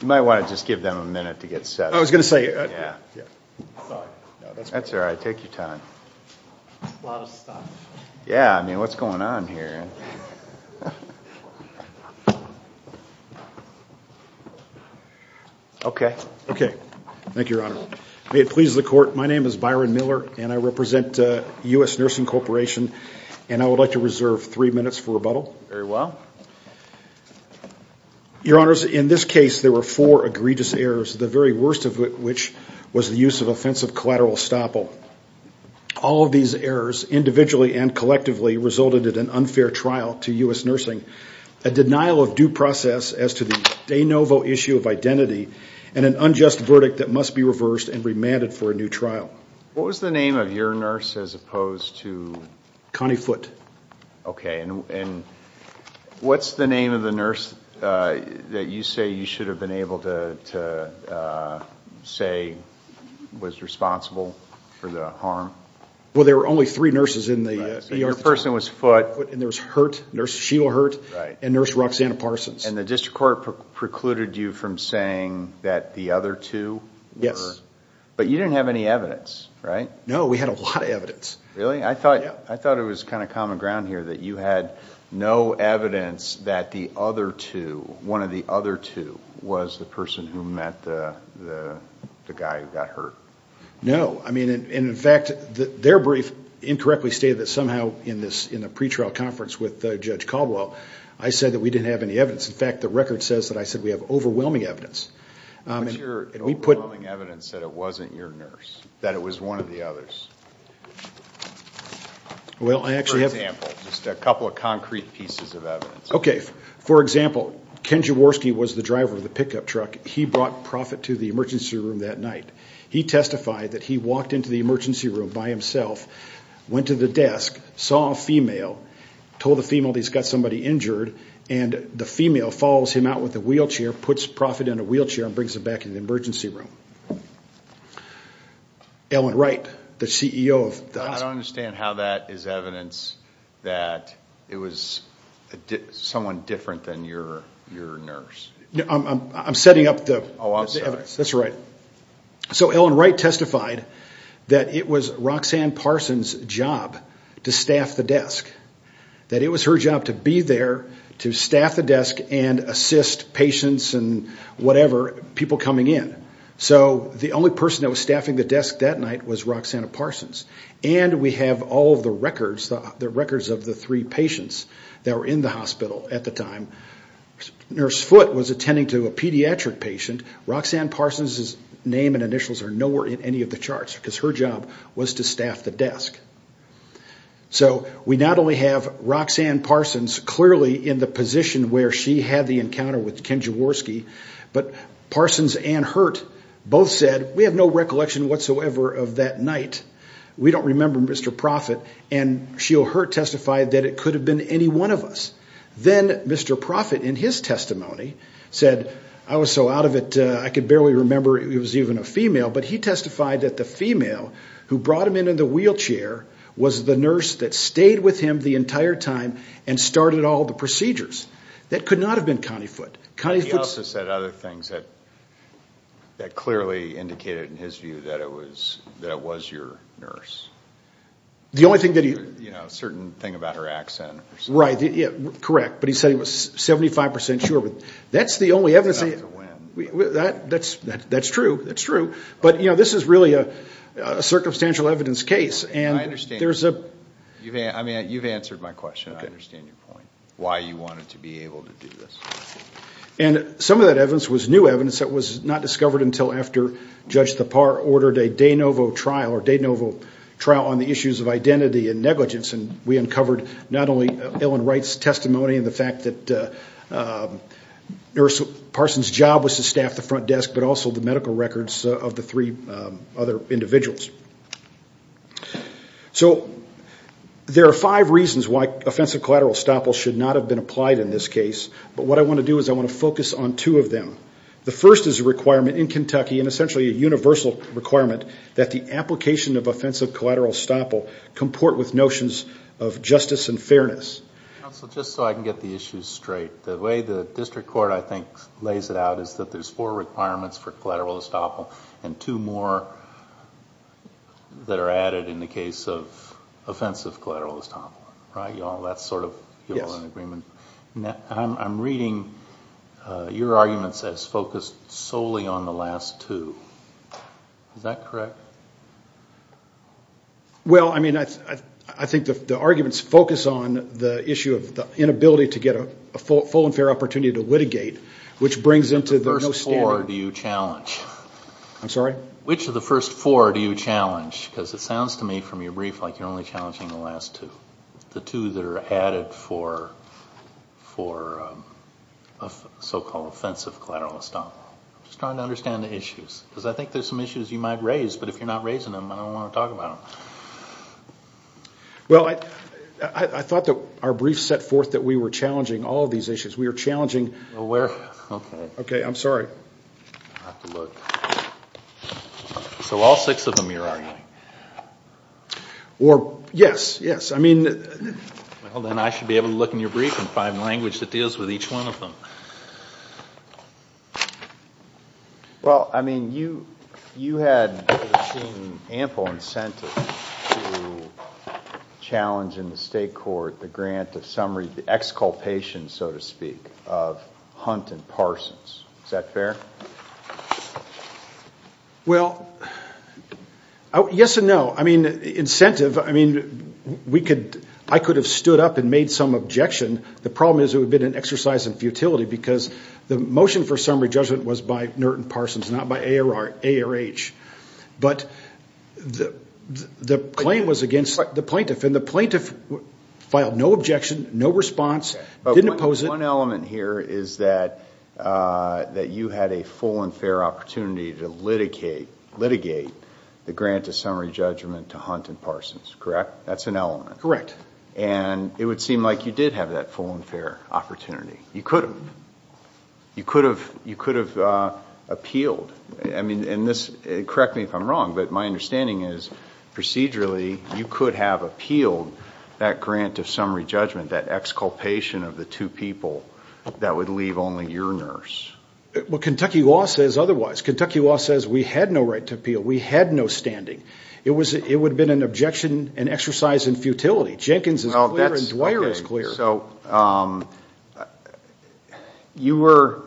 You might want to just give them a minute to get set up. I was going to say... Yeah. That's all right. Take your time. A lot of stuff. Yeah. I mean, what's going on here? Okay. Thank you, your honor. May it please the court. My name is Byron Miller and I represent US Nursing Corporation and I would like to reserve three minutes for rebuttal. Very well. Your honors, in this case, there were four egregious errors, the very worst of which was the use of offensive collateral estoppel. All of these errors, individually and collectively, resulted in an unfair trial to US Nursing, a denial of due process as to the de novo issue of identity, and an unjust verdict that must be reversed and remanded for a new trial. What was the name of your nurse as opposed to? Connie Foote. Okay. And what's the name of the nurse that you say you should have been able to say was responsible for the harm? Well, there were only three nurses in the ER at the time. So your person was Foote. Foote, and there was Hurt, Nurse Sheila Hurt, and Nurse Roxanna Parsons. And the district court precluded you from saying that the other two were? Yes. But you didn't have any evidence, right? No, we had a lot of evidence. Really? I thought it was kind of common ground here that you had no evidence that the other two, one of the other two, was the person who met the guy who got hurt. No. I mean, and in fact, their brief incorrectly stated that somehow in the pretrial conference with Judge Caldwell, I said that we didn't have any evidence. In fact, the record says that I said we have overwhelming evidence. What's your overwhelming evidence that it wasn't your nurse, that it was one of the others? For example, just a couple of concrete pieces of evidence. Okay. For example, Ken Jaworski was the driver of the pickup truck. He brought Profitt to the emergency room that night. He testified that he walked into the emergency room by himself, went to the desk, saw a female, told the female that he's got somebody injured, and the female follows him out with a wheelchair, puts Profitt in a wheelchair, and brings him back to the emergency room. Ellen Wright, the CEO of the hospital. I don't understand how that is evidence that it was someone different than your nurse. I'm setting up the evidence. Oh, I'm sorry. That's all right. Ellen Wright testified that it was Roxanne Parsons' job to staff the desk, that it was her job to be there to staff the desk and assist patients and whatever, people coming in. The only person that was staffing the desk that night was Roxanne Parsons. We have all of the records, the records of the three patients that were in the hospital at the time. Nurse Foote was attending to a pediatric patient. Roxanne Parsons' name and initials are nowhere in any of the charts because her job was to staff the desk. So we not only have Roxanne Parsons clearly in the position where she had the encounter with Ken Jaworski, but Parsons and Hurt both said, we have no recollection whatsoever of that night. We don't remember Mr. Profitt, and she or Hurt testified that it could have been any one of us. Then Mr. Profitt, in his testimony, said, I was so out of it, I could barely remember it was even a female, but he testified that the female who brought him into the wheelchair was the nurse that stayed with him the entire time and started all the procedures. That could not have been Connie Foote. Connie Foote... He also said other things that clearly indicated, in his view, that it was your nurse. The only thing that he... You know, a certain thing about her accent or something. Right. Correct. But he said he was 75% sure. But that's the only evidence... It's not to win. That's true. That's true. But this is really a circumstantial evidence case, and there's a... You've answered my question. I understand your point, why you wanted to be able to do this. And some of that evidence was new evidence that was not discovered until after Judge Thapar ordered a de novo trial on the issues of identity and negligence, and we uncovered not only Ellen Wright's testimony and the fact that nurse Parsons' job was to staff the front desk, but also the medical records of the three other individuals. So there are five reasons why offensive collateral estoppel should not have been applied in this case, but what I want to do is I want to focus on two of them. The first is a requirement in Kentucky, and essentially a universal requirement, that the application of offensive collateral estoppel comport with notions of justice and fairness. Counsel, just so I can get the issues straight, the way the district court, I think, lays it out is that there's four requirements for collateral estoppel and two more that are added in the case of offensive collateral estoppel. Right, y'all? That's sort of... Yes. ...an agreement. I'm reading your arguments as focused solely on the last two. Is that correct? Well, I mean, I think the arguments focus on the issue of the inability to get a full and fair opportunity to litigate, which brings into the no standard... Which of the first four do you challenge? I'm sorry? Which of the first four do you challenge? Because it sounds to me from your brief like you're only challenging the last two. The two that are added for so-called offensive collateral estoppel. I'm just trying to understand the issues, because I think there's some issues you might raise, but if you're not raising them, I don't want to talk about them. Well, I thought that our brief set forth that we were challenging all of these issues. We are challenging... Well, we're... Okay. Okay, I'm sorry. I'll have to look. So all six of them you're arguing? Or... Yes, yes. I mean... Well, then I should be able to look in your brief and find language that deals with each one of them. Well, I mean, you had seen ample incentive to challenge in the state court the grant of summary, the exculpation, so to speak, of Hunt and Parsons. Is that fair? Well, yes and no. I mean, incentive, I mean, I could have stood up and made some objection. The problem is it would have been an exercise in futility, because the motion for summary judgment was by Norton Parsons, not by ARH. But the claim was against the plaintiff, and the plaintiff filed no objection, no response, didn't oppose it. One element here is that you had a full and fair opportunity to litigate the grant of summary judgment to Hunt and Parsons, correct? That's an element. Correct. And it would seem like you did have that full and fair opportunity. You could have. You could have appealed. I mean, and this, correct me if I'm wrong, but my understanding is procedurally, you could have appealed that grant of summary judgment, that exculpation of the two people that would leave only your nurse. Well, Kentucky law says otherwise. Kentucky law says we had no right to appeal. We had no standing. It would have been an objection, an exercise in futility. Jenkins is clear and Dwyer is clear. Okay, so you were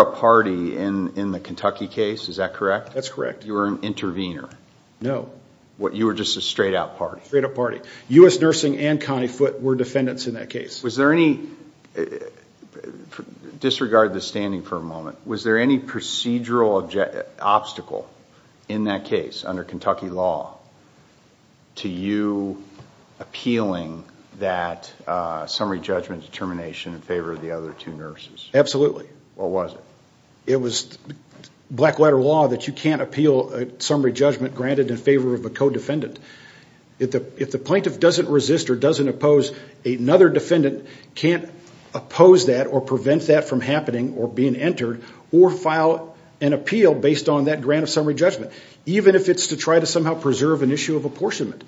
a party in the Kentucky case, is that correct? That's correct. You were an intervener. No. You were just a straight-out party. Straight-out party. U.S. Nursing and Connie Foote were defendants in that case. Was there any... Disregard the standing for a moment. Was there any procedural obstacle in that case under Kentucky law to you appealing that summary judgment determination in favor of the other two nurses? Absolutely. What was it? It was black letter law that you can't appeal a summary judgment granted in favor of a co-defendant. If the plaintiff doesn't resist or doesn't oppose another defendant, can't oppose that or prevent that from happening or being entered or file an appeal based on that grant of summary judgment, even if it's to try to somehow preserve an issue of apportionment.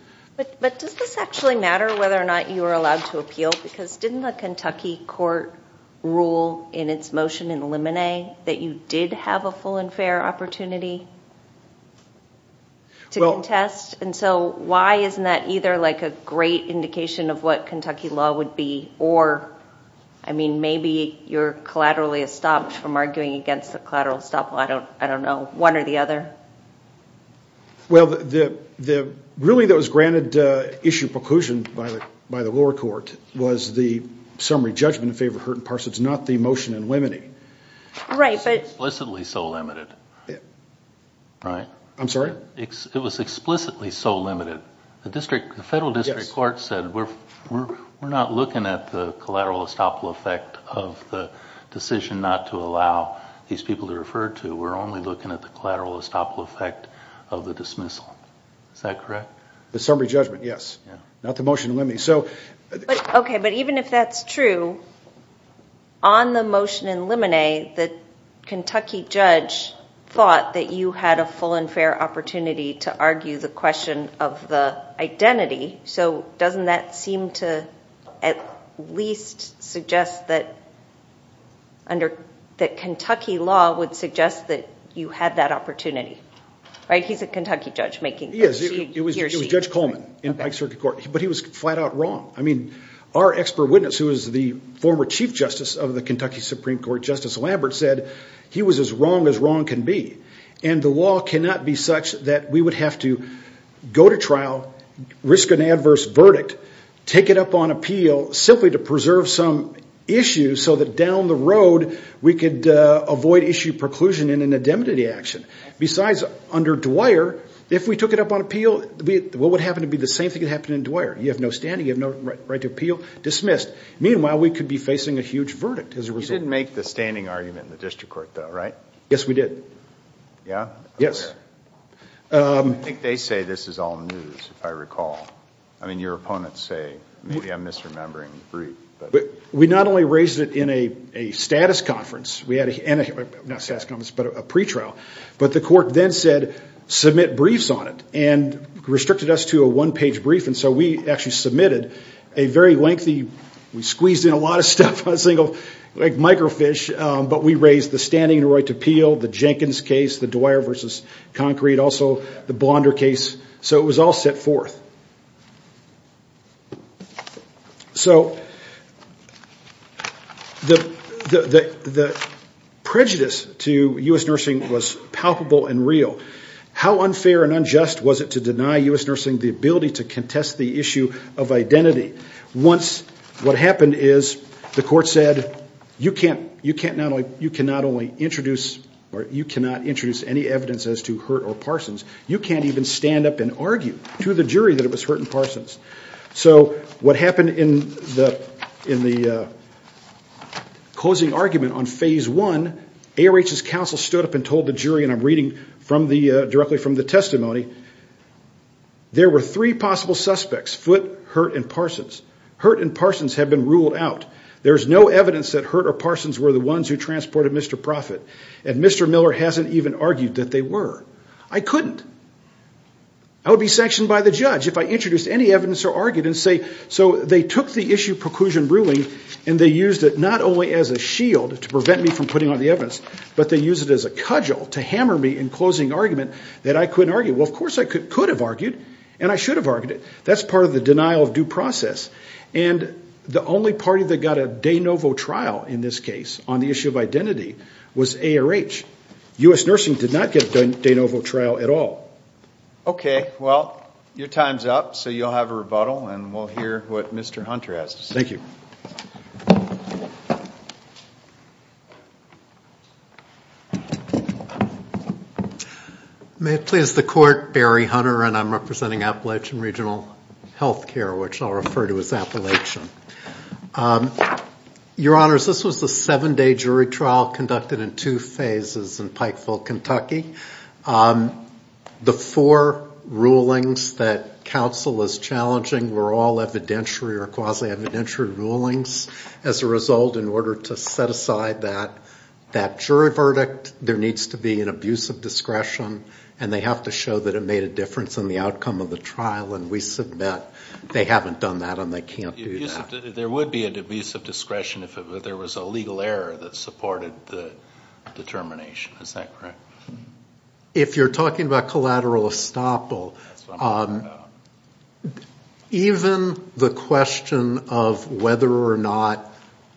But does this actually matter whether or not you were allowed to appeal? Because didn't the Kentucky court rule in its motion in Lemonet that you did have a full and fair opportunity to contest? And so why isn't that either like a great indication of what Kentucky law would be or I mean, maybe you're collaterally estopped from arguing against the collateral estoppel. I don't know. One or the other? Well, the ruling that was granted issue preclusion by the lower court was the summary judgment in favor of Hurt and Parsons, not the motion in Lemonet. Right, but... It was explicitly so limited. Right? I'm sorry? It was explicitly so limited. The federal district court said we're not looking at the collateral estoppel effect of the decision not to allow these people to refer to. We're only looking at the collateral estoppel effect of the dismissal. Is that correct? The summary judgment, yes. Yeah. Not the motion in Lemonet. Okay, but even if that's true, on the motion in Lemonet, the Kentucky judge thought that you had a full and fair opportunity to argue the question of the identity, so doesn't that seem to at least suggest that under... that Kentucky law would suggest that you had that opportunity? Right? He's a Kentucky judge making... He is. He or she. It was Judge Coleman in Pike Circuit Court, but he was flat out wrong. I mean, our expert witness who is the former chief justice of the Kentucky Supreme Court, Justice Lambert, said he was as wrong as wrong can be. The law cannot be such that we would have to go to trial, risk an adverse verdict, take it up on appeal simply to preserve some issue so that down the road we could avoid issue preclusion in an indemnity action. Besides, under Dwyer, if we took it up on appeal, what would happen to be the same thing that happened in Dwyer? You have no standing. You have no right to appeal. Dismissed. Meanwhile, we could be facing a huge verdict as a result. You didn't make the standing argument in the district court, though, right? Yes, we did. Yeah? Yes. I think they say this is all news, if I recall. I mean, your opponents say, maybe I'm misremembering the brief, but... We not only raised it in a status conference, we had a... not a status conference, but a pretrial, but the court then said, submit briefs on it, and restricted us to a one-page brief, and so we actually submitted a very lengthy... we squeezed in a lot of stuff on a single microfiche, but we raised the standing right to appeal, the Jenkins case, the Dwyer versus Concrete, also the Blonder case, so it was all set forth. So the prejudice to U.S. nursing was palpable and real. How unfair and unjust was it to deny U.S. nursing the ability to contest the issue of identity? Once, what happened is, the court said, you cannot introduce any evidence as to Hurt or Parsons. You can't even stand up and argue to the jury that it was Hurt and Parsons. So what happened in the closing argument on phase one, ARH's counsel stood up and told the jury, and I'm reading directly from the testimony, there were three possible suspects, Foote, Hurt, and Parsons. Hurt and Parsons have been ruled out. There's no evidence that Hurt or Parsons were the ones who transported Mr. Proffitt, and Mr. Miller hasn't even argued that they were. I couldn't. I would be sanctioned by the judge if I introduced any evidence or argued and say, so they took the issue preclusion ruling, and they used it not only as a shield to prevent me from putting on the evidence, but they used it as a cudgel to hammer me in closing argument that I couldn't argue. Well, of course I could have argued, and I should have argued it. That's part of the denial of due process, and the only party that got a de novo trial in this case on the issue of identity was ARH. U.S. Nursing did not get a de novo trial at all. Okay, well, your time's up, so you'll have a rebuttal, and we'll hear what Mr. Hunter has to say. Thank you. May it please the court, Barry Hunter, and I'm representing Appalachian Regional Health Care, which I'll refer to as Appalachian. Your Honors, this was a seven-day jury trial conducted in two phases in Pikeville, Kentucky. The four rulings that counsel is challenging were all evidentiary or quasi-evidentiary rulings. As a result, in order to set aside that jury verdict, there needs to be an abuse of discretion, and they have to show that it made a difference in the outcome of the trial, and we submit they haven't done that and they can't do that. There would be an abuse of discretion if there was a legal error that supported the determination. Is that correct? If you're talking about collateral estoppel, even the question of whether or not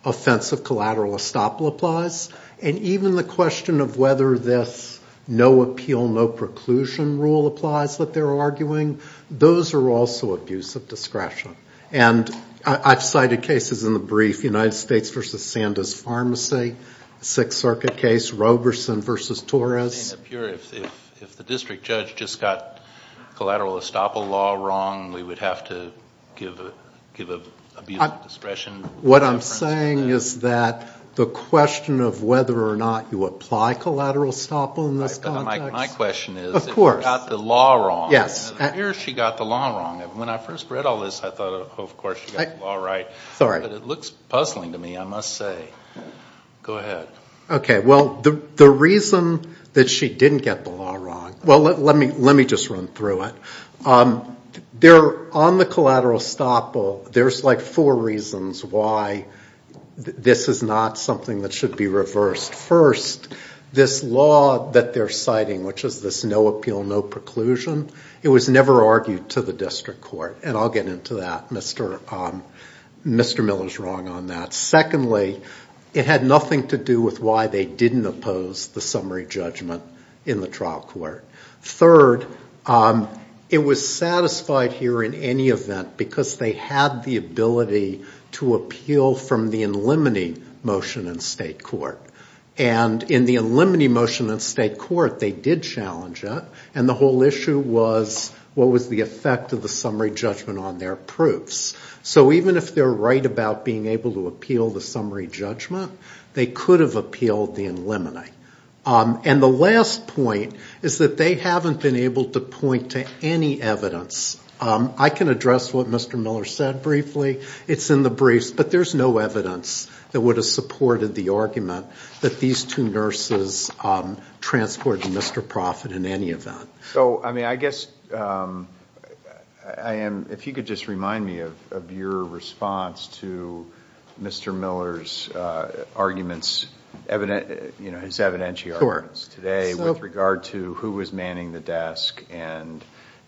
offensive collateral estoppel applies, and even the question of whether this no-appeal, no-preclusion rule applies that they're arguing, those are also abuse of discretion, and I've cited cases in the brief, United States v. Sanda's Pharmacy, Sixth Circuit case, Roberson v. Torres. It would appear if the district judge just got collateral estoppel law wrong, we would have to give abuse of discretion. What I'm saying is that the question of whether or not you apply collateral estoppel in this context. My question is, if you got the law wrong, where she got the law wrong? When I first read all this, I thought, oh, of course, she got the law right. It looks puzzling to me, I must say. Go ahead. Okay. Well, the reason that she didn't get the law wrong, well, let me just run through it. On the collateral estoppel, there's like four reasons why this is not something that should be reversed. First, this law that they're citing, which is this no-appeal, no-preclusion, it was never Mr. Miller's wrong on that. Secondly, it had nothing to do with why they didn't oppose the summary judgment in the trial court. Third, it was satisfied here in any event because they had the ability to appeal from the in limine motion in state court. In the in limine motion in state court, they did challenge it, and the whole issue was what was the effect of the summary judgment on their proofs. So even if they're right about being able to appeal the summary judgment, they could have appealed the in limine. And the last point is that they haven't been able to point to any evidence. I can address what Mr. Miller said briefly. It's in the briefs, but there's no evidence that would have supported the argument that these two nurses transported to Mr. Profitt in any event. So I mean, I guess I am, if you could just remind me of your response to Mr. Miller's arguments, you know, his evidentiary arguments today with regard to who was manning the desk and,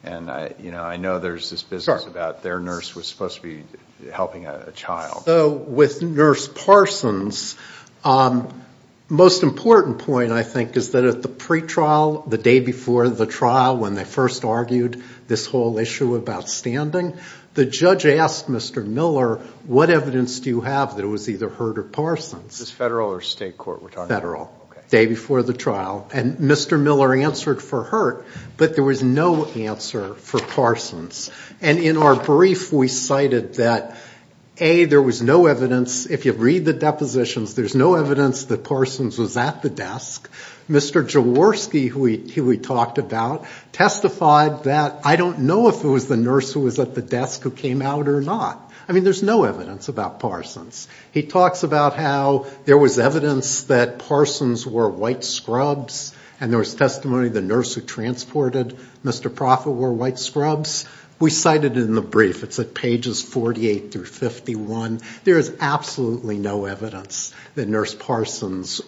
you know, I know there's this business about their nurse was supposed to be helping a child. So with Nurse Parsons, most important point, I think, is that at the pretrial, the day before the trial, when they first argued this whole issue about standing, the judge asked Mr. Miller, what evidence do you have that it was either Hurt or Parsons? Is this federal or state court we're talking about? Federal. Day before the trial. And Mr. Miller answered for Hurt, but there was no answer for Parsons. And in our brief, we cited that, A, there was no evidence, if you read the depositions, there's no evidence that Parsons was at the desk. Mr. Jaworski, who we talked about, testified that, I don't know if it was the nurse who was at the desk who came out or not. I mean, there's no evidence about Parsons. He talks about how there was evidence that Parsons wore white scrubs and there was testimony the nurse who transported Mr. Proffitt wore white scrubs. We cited in the brief, it's at pages 48 through 51, there is absolutely no evidence that Nurse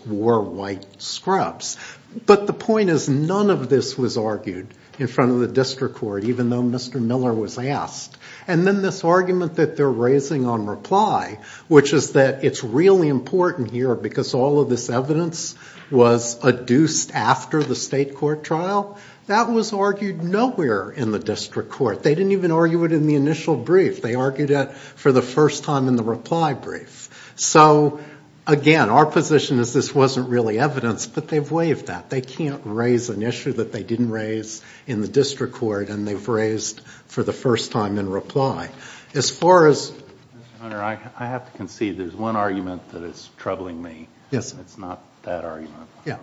wore white scrubs. But the point is, none of this was argued in front of the district court, even though Mr. Miller was asked. And then this argument that they're raising on reply, which is that it's really important here because all of this evidence was adduced after the state court trial, that was argued nowhere in the district court. They didn't even argue it in the initial brief. They argued it for the first time in the reply brief. So again, our position is this wasn't really evidence, but they've waived that. They can't raise an issue that they didn't raise in the district court and they've raised for the first time in reply. As far as... Mr. Hunter, I have to concede there's one argument that is troubling me. Yes. It's not that argument. Yeah.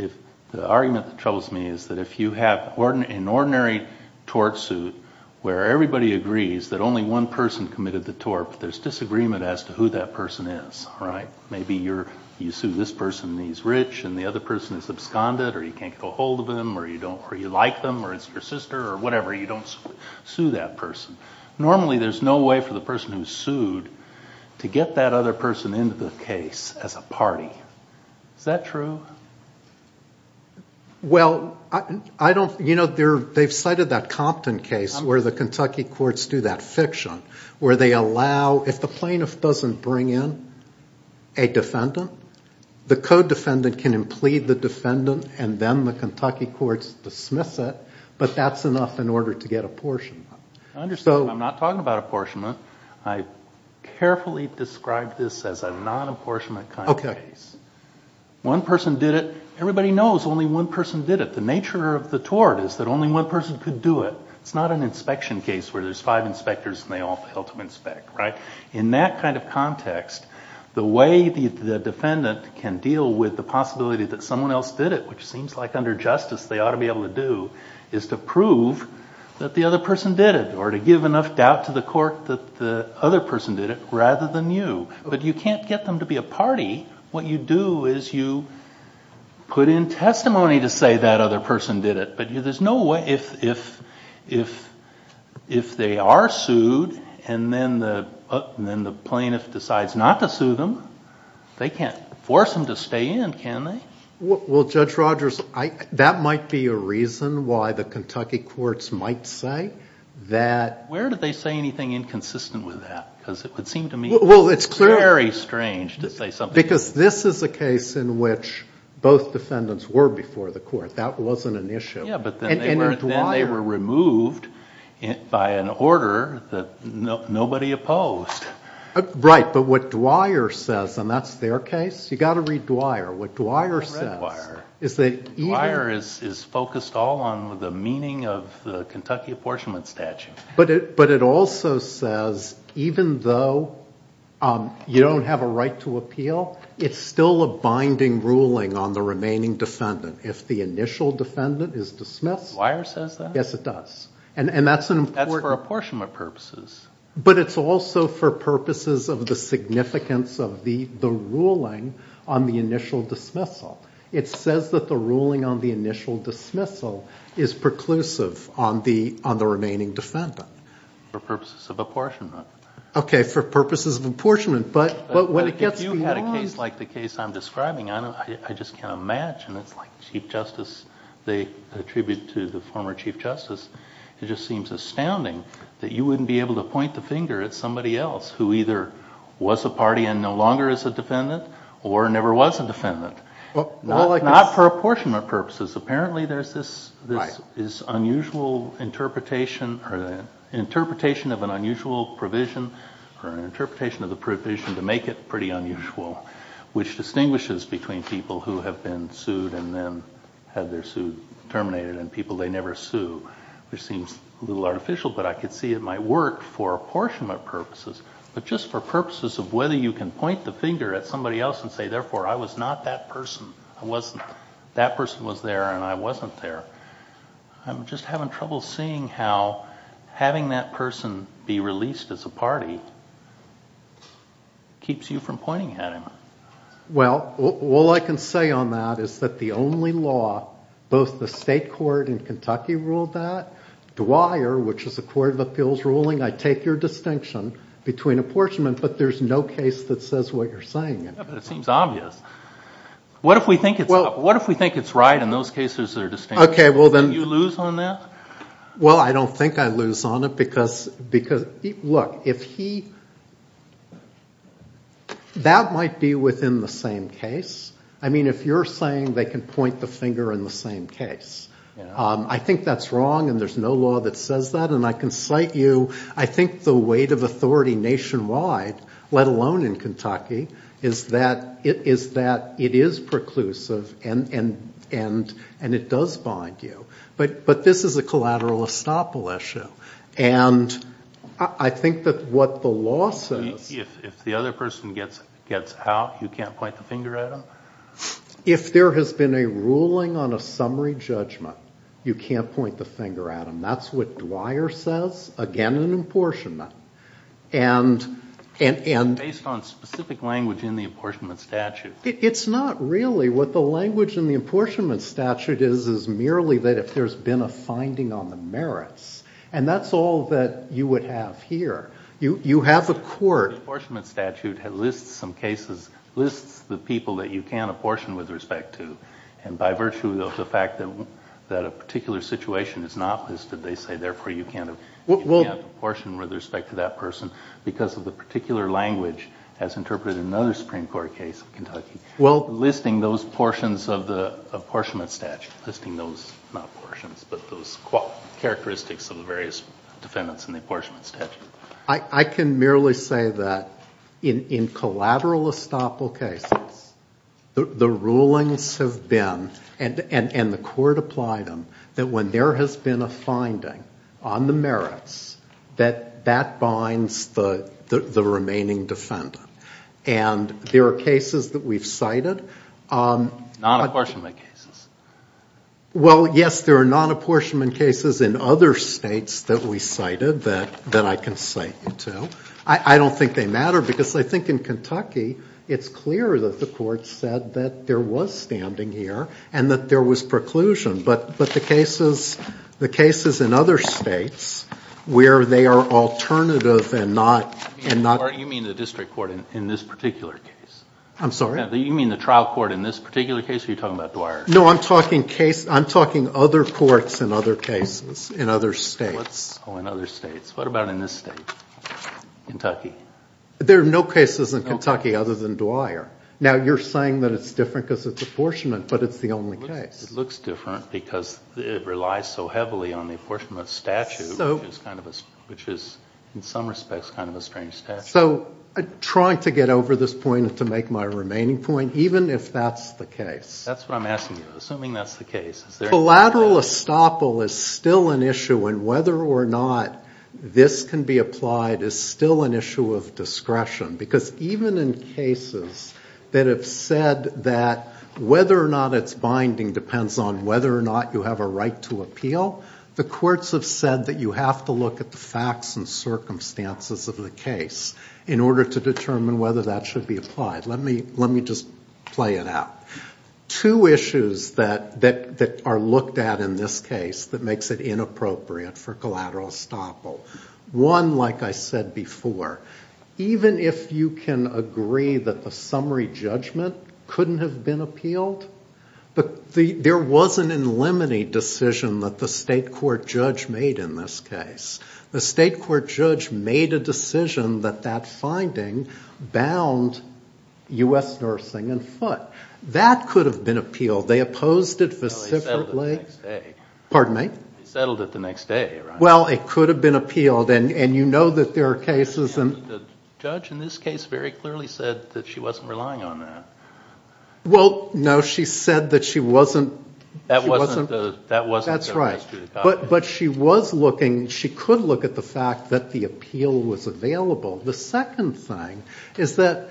Right. The argument that troubles me is that if you have an ordinary tort suit where everybody agrees that only one person committed the tort, there's disagreement as to who that person is. All right? Maybe you sue this person and he's rich and the other person is absconded or you can't get a hold of them or you like them or it's your sister or whatever, you don't sue that person. Normally, there's no way for the person who's sued to get that other person into the case as a party. Is that true? Well, I don't... You know, they've cited that Compton case where the Kentucky courts do that fiction where they allow... If the plaintiff doesn't bring in a defendant, the co-defendant can implead the defendant and then the Kentucky courts dismiss it, but that's enough in order to get apportionment. I understand. I'm not talking about apportionment. I carefully described this as a non-apportionment kind of case. One person did it. Everybody knows only one person did it. The nature of the tort is that only one person could do it. It's not an inspection case where there's five inspectors and they all fail to inspect, right? In that kind of context, the way the defendant can deal with the possibility that someone else did it, which seems like under justice they ought to be able to do, is to prove that the other person did it or to give enough doubt to the court that the other person did it rather than you. You can't get them to be a party. What you do is you put in testimony to say that other person did it, but there's no way... If they are sued and then the plaintiff decides not to sue them, they can't force them to stay in, can they? Judge Rogers, that might be a reason why the Kentucky courts might say that... Where do they say anything inconsistent with that because it would seem to me... It's very strange to say something... Because this is a case in which both defendants were before the court. That wasn't an issue. Yeah, but then they were removed by an order that nobody opposed. Right, but what Dwyer says, and that's their case. You got to read Dwyer. What Dwyer says... Read Dwyer. Dwyer is focused all on the meaning of the Kentucky apportionment statute. But it also says even though you don't have a right to appeal, it's still a binding ruling on the remaining defendant if the initial defendant is dismissed. Dwyer says that? Yes, it does. And that's an important... That's for apportionment purposes. But it's also for purposes of the significance of the ruling on the initial dismissal. It says that the ruling on the initial dismissal is preclusive on the remaining defendant. For purposes of apportionment. Okay, for purposes of apportionment. But when it gets beyond... If you had a case like the case I'm describing, I just can't imagine it's like Chief Justice, they attribute to the former Chief Justice. It just seems astounding that you wouldn't be able to point the finger at somebody else who either was a party and no longer is a defendant or never was a defendant. Not for apportionment purposes. Apparently there's this unusual interpretation or interpretation of an unusual provision or an interpretation of the provision to make it pretty unusual, which distinguishes between people who have been sued and then have their suit terminated and people they never sue. Which seems a little artificial, but I could see it might work for apportionment purposes. But just for purposes of whether you can point the finger at somebody else and say, therefore, I was not that person. That person was there and I wasn't there. I'm just having trouble seeing how having that person be released as a party keeps you from pointing at him. Well, all I can say on that is that the only law, both the state court in Kentucky ruled that. Dwyer, which is a court of appeals ruling, I take your distinction between apportionment, but there's no case that says what you're saying. Yeah, but it seems obvious. What if we think it's right in those cases that are distinguished? Okay, well then. Do you lose on that? Well, I don't think I lose on it because, look, if he, that might be within the same case. I mean, if you're saying they can point the finger in the same case. I think that's wrong and there's no law that says that. And I can cite you, I think the weight of authority nationwide, let alone in Kentucky, is that it is preclusive and it does bind you. But this is a collateral estoppel issue. And I think that what the law says. If the other person gets out, you can't point the finger at them? If there has been a ruling on a summary judgment, you can't point the finger at them. That's what Dwyer says, again, an apportionment. And based on specific language in the apportionment statute. It's not really. What the language in the apportionment statute is, is merely that if there's been a finding on the merits. And that's all that you would have here. You have a court. The apportionment statute lists some cases, lists the people that you can apportion with respect to. And by virtue of the fact that a particular situation is not listed, they say therefore you can't apportion with respect to that person. Because of the particular language as interpreted in another Supreme Court case in Kentucky. Listing those portions of the apportionment statute. Listing those, not portions, but those characteristics of the various defendants in the apportionment statute. I can merely say that in collateral estoppel cases, the rulings have been, and the court applied them, that when there has been a finding on the merits, that that binds the remaining defendant. And there are cases that we've cited. Non-apportionment cases. Well, yes, there are non-apportionment cases in other states that we cited that I can cite you to. I don't think they matter because I think in Kentucky, it's clear that the court said that there was standing here and that there was preclusion. But the cases, the cases in other states where they are alternative and not. You mean the district court in this particular case? I'm sorry? You mean the trial court in this particular case or are you talking about Dwyer? No, I'm talking case, I'm talking other courts in other cases, in other states. Oh, in other states. What about in this state, Kentucky? There are no cases in Kentucky other than Dwyer. Now you're saying that it's different because it's apportionment, but it's the only case. It looks different because it relies so heavily on the apportionment statute, which is in some respects kind of a strange statute. So I'm trying to get over this point and to make my remaining point, even if that's the case. That's what I'm asking you. Assuming that's the case. Collateral estoppel is still an issue and whether or not this can be applied is still an issue of discretion. Because even in cases that have said that whether or not it's binding depends on whether or not you have a right to appeal, the courts have said that you have to look at the facts and circumstances of the case in order to determine whether that should be applied. Let me just play it out. Two issues that are looked at in this case that makes it inappropriate for collateral estoppel. One, like I said before, even if you can agree that the summary judgment couldn't have been appealed, but there was an in limine decision that the state court judge made in this case. The state court judge made a decision that that finding bound U.S. nursing in foot. That could have been appealed. They opposed it. They settled it the next day. Pardon me? They settled it the next day, right? Well, it could have been appealed and you know that there are cases. The judge in this case very clearly said that she wasn't relying on that. Well, no. She said that she wasn't. That wasn't the history. That's right. But she was looking, she could look at the fact that the appeal was available. The second thing is that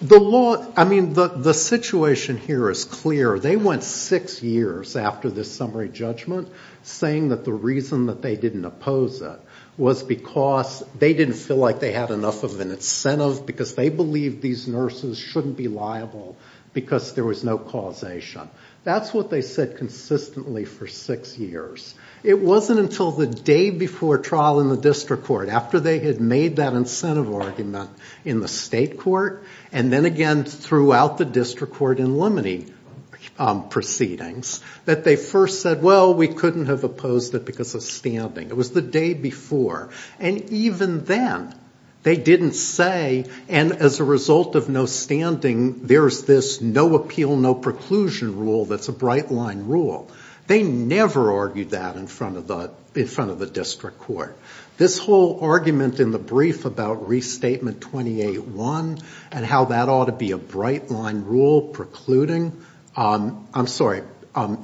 the law, I mean the situation here is clear. They went six years after this summary judgment saying that the reason that they didn't oppose it was because they didn't feel like they had enough of an incentive because they believed these nurses shouldn't be liable because there was no causation. That's what they said consistently for six years. It wasn't until the day before trial in the district court, after they had made that incentive argument in the state court and then again throughout the district court in limine proceedings that they first said, well, we couldn't have opposed it because of standing. It was the day before. And even then, they didn't say, and as a result of no standing, there's this no appeal, no preclusion rule that's a bright line rule. They never argued that in front of the district court. This whole argument in the brief about Restatement 28-1 and how that ought to be a bright line rule precluding, I'm sorry,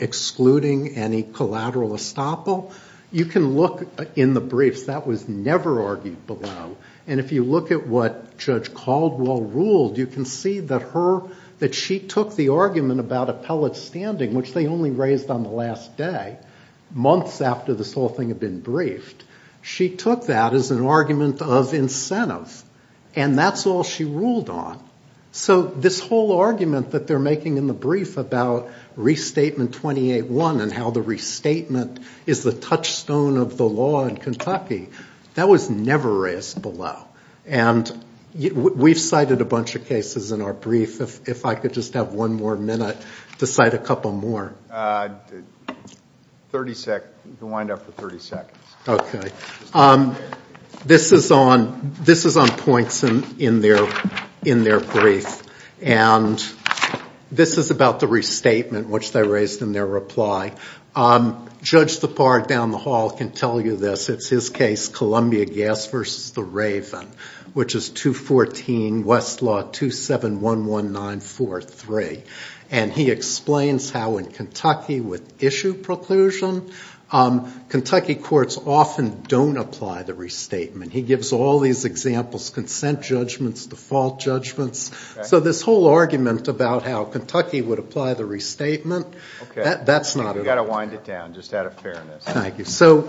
excluding any collateral estoppel, you can look in the briefs. That was never argued below. And if you look at what Judge Caldwell ruled, you can see that her, that she took the argument about appellate standing, which they only raised on the last day, months after this whole thing had been briefed, she took that as an argument of incentive. And that's all she ruled on. So this whole argument that they're making in the brief about Restatement 28-1 and how the restatement is the touchstone of the law in Kentucky, that was never raised below. And we've cited a bunch of cases in our brief. If I could just have one more minute to cite a couple more. 30 seconds. You can wind up for 30 seconds. This is on points in their brief. And this is about the restatement, which they raised in their reply. Judge Tappar down the hall can tell you this. It's his case, Columbia Gas v. The Raven, which is 214 Westlaw 2711943. And he explains how in Kentucky with issue preclusion, Kentucky courts often don't apply the restatement. He gives all these examples, consent judgments, default judgments. So this whole argument about how Kentucky would apply the restatement, that's not an argument. You've got to wind it down, just out of fairness. Thank you. So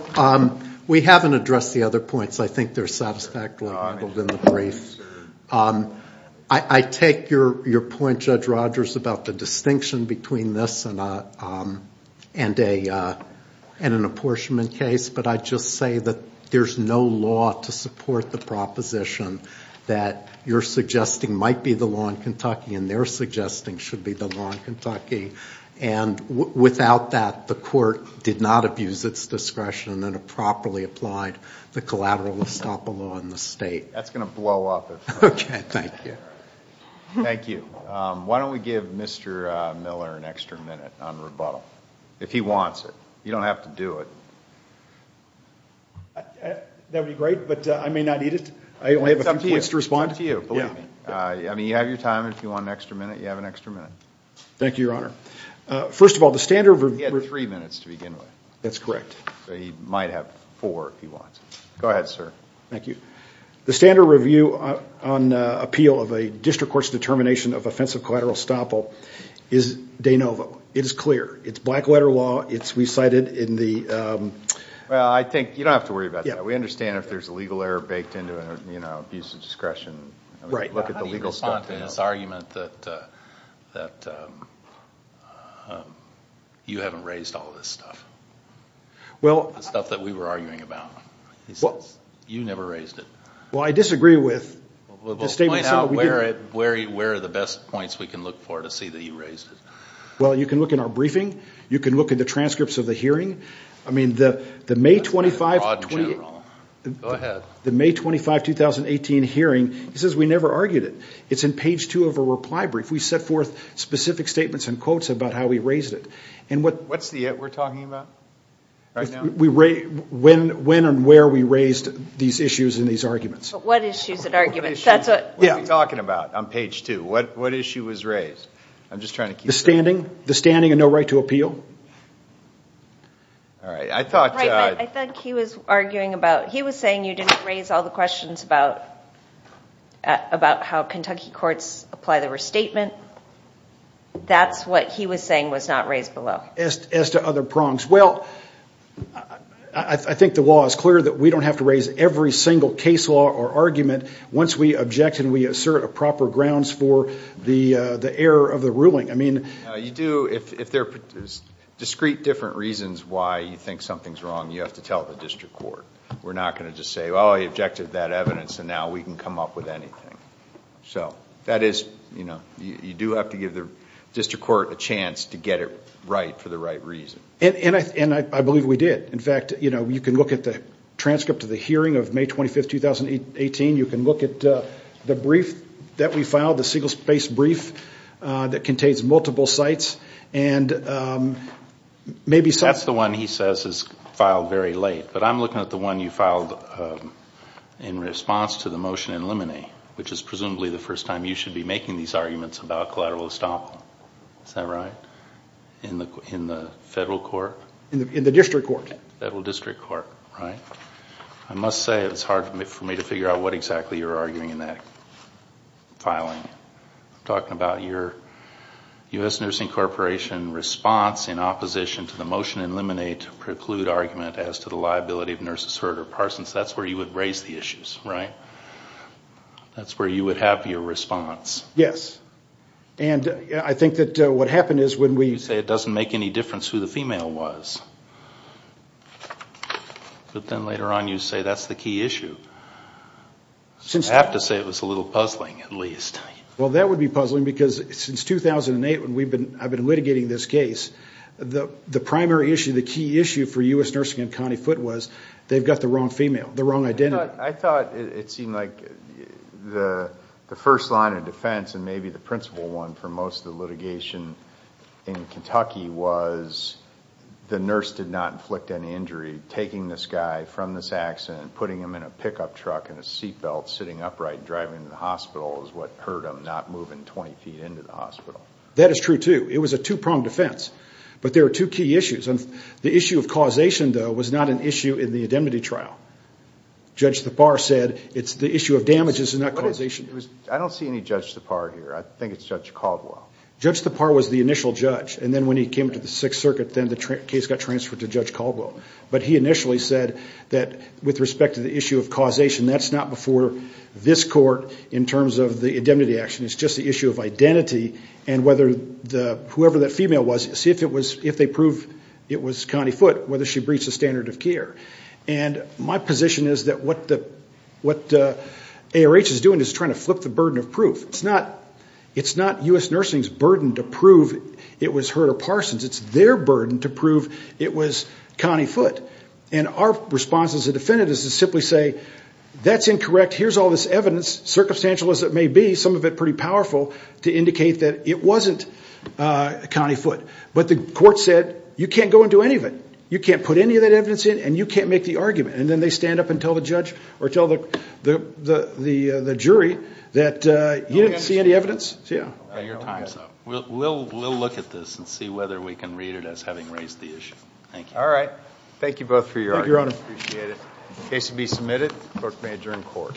we haven't addressed the other points. I think they're satisfactorily labeled in the brief. I take your point, Judge Rogers, about the distinction between this and an apportionment case. But I just say that there's no law to support the proposition that you're suggesting might be the law in Kentucky and they're suggesting should be the law in Kentucky. And without that, the court did not abuse its discretion and it properly applied the collateral estoppel law in the state. That's going to blow up. Okay. Thank you. Thank you. Why don't we give Mr. Miller an extra minute on rebuttal, if he wants it. You don't have to do it. That would be great, but I may not need it. I only have a few points to respond. It's up to you. Believe me. I mean, you have your time. If you want an extra minute, you have an extra minute. Thank you, Your Honor. First of all, the standard review... He had three minutes to begin with. That's correct. So he might have four, if he wants. Go ahead, sir. Thank you. The standard review on appeal of a district court's determination of offensive collateral estoppel is de novo. It is clear. It's black letter law. It's recited in the... Well, I think you don't have to worry about that. We understand if there's a legal error baked into an abuse of discretion, look at the legal stuff. I'm not going to respond to his argument that you haven't raised all of this stuff, the stuff that we were arguing about. You never raised it. Well, I disagree with the statement that we did. Well, point out where are the best points we can look for to see that you raised it. Well, you can look in our briefing. You can look at the transcripts of the hearing. I mean, the May 25, 2018 hearing, he says we never argued it. It's in page two of a reply brief. We set forth specific statements and quotes about how we raised it. What's the it we're talking about right now? When and where we raised these issues and these arguments. What issues and arguments? That's what... What are we talking about on page two? What issue was raised? I'm just trying to keep... The standing? The standing and no right to appeal? All right. I thought... Right, but I think he was arguing about... About how Kentucky courts apply the restatement. That's what he was saying was not raised below. As to other prongs, well, I think the law is clear that we don't have to raise every single case law or argument once we object and we assert a proper grounds for the error of the ruling. I mean... You do, if there are discrete different reasons why you think something's wrong, you have to tell the district court. We're not going to just say, well, he objected to that evidence and now we can come up with anything. That is... You do have to give the district court a chance to get it right for the right reason. I believe we did. In fact, you can look at the transcript of the hearing of May 25th, 2018. You can look at the brief that we filed, the single space brief that contains multiple sites and maybe... That's the one he says is filed very late. But I'm looking at the one you filed in response to the motion in limine, which is presumably the first time you should be making these arguments about collateral estoppel. Is that right? In the federal court? In the district court. Federal district court, right? I must say it's hard for me to figure out what exactly you're arguing in that filing. I'm talking about your U.S. Nursing Corporation response in opposition to the motion in limine to preclude argument as to the liability of nurses Hurd or Parsons. That's where you would raise the issues, right? That's where you would have your response. Yes. And I think that what happened is when we... You say it doesn't make any difference who the female was, but then later on you say that's the key issue. I have to say it was a little puzzling at least. Well that would be puzzling because since 2008 when I've been litigating this case, the primary issue, the key issue for U.S. Nursing and County Foot was they've got the wrong female, the wrong identity. I thought it seemed like the first line of defense and maybe the principal one for most of the litigation in Kentucky was the nurse did not inflict any injury. Taking this guy from this accident, putting him in a pickup truck in a seat belt, sitting upright driving to the hospital is what hurt him not moving 20 feet into the hospital. That is true too. It was a two-pronged defense, but there are two key issues. The issue of causation though was not an issue in the indemnity trial. Judge Thapar said it's the issue of damages and not causation. I don't see any Judge Thapar here. I think it's Judge Caldwell. Judge Thapar was the initial judge and then when he came to the Sixth Circuit, then the case got transferred to Judge Caldwell. But he initially said that with respect to the issue of causation, that's not before this court in terms of the indemnity action. It's just the issue of identity and whoever that female was, see if they prove it was Connie Foote, whether she breached the standard of care. My position is that what ARH is doing is trying to flip the burden of proof. It's not U.S. Nursing's burden to prove it was Herta Parsons. It's their burden to prove it was Connie Foote. Our response as a defendant is to simply say, that's incorrect. Here's all this evidence, circumstantial as it may be. Some of it pretty powerful to indicate that it wasn't Connie Foote. But the court said, you can't go into any of it. You can't put any of that evidence in and you can't make the argument. And then they stand up and tell the judge or tell the jury that you didn't see any evidence. So yeah. Your time's up. We'll look at this and see whether we can read it as having raised the issue. All right. Thank you both for your argument. Thank you, Your Honor. I appreciate it. The case will be submitted.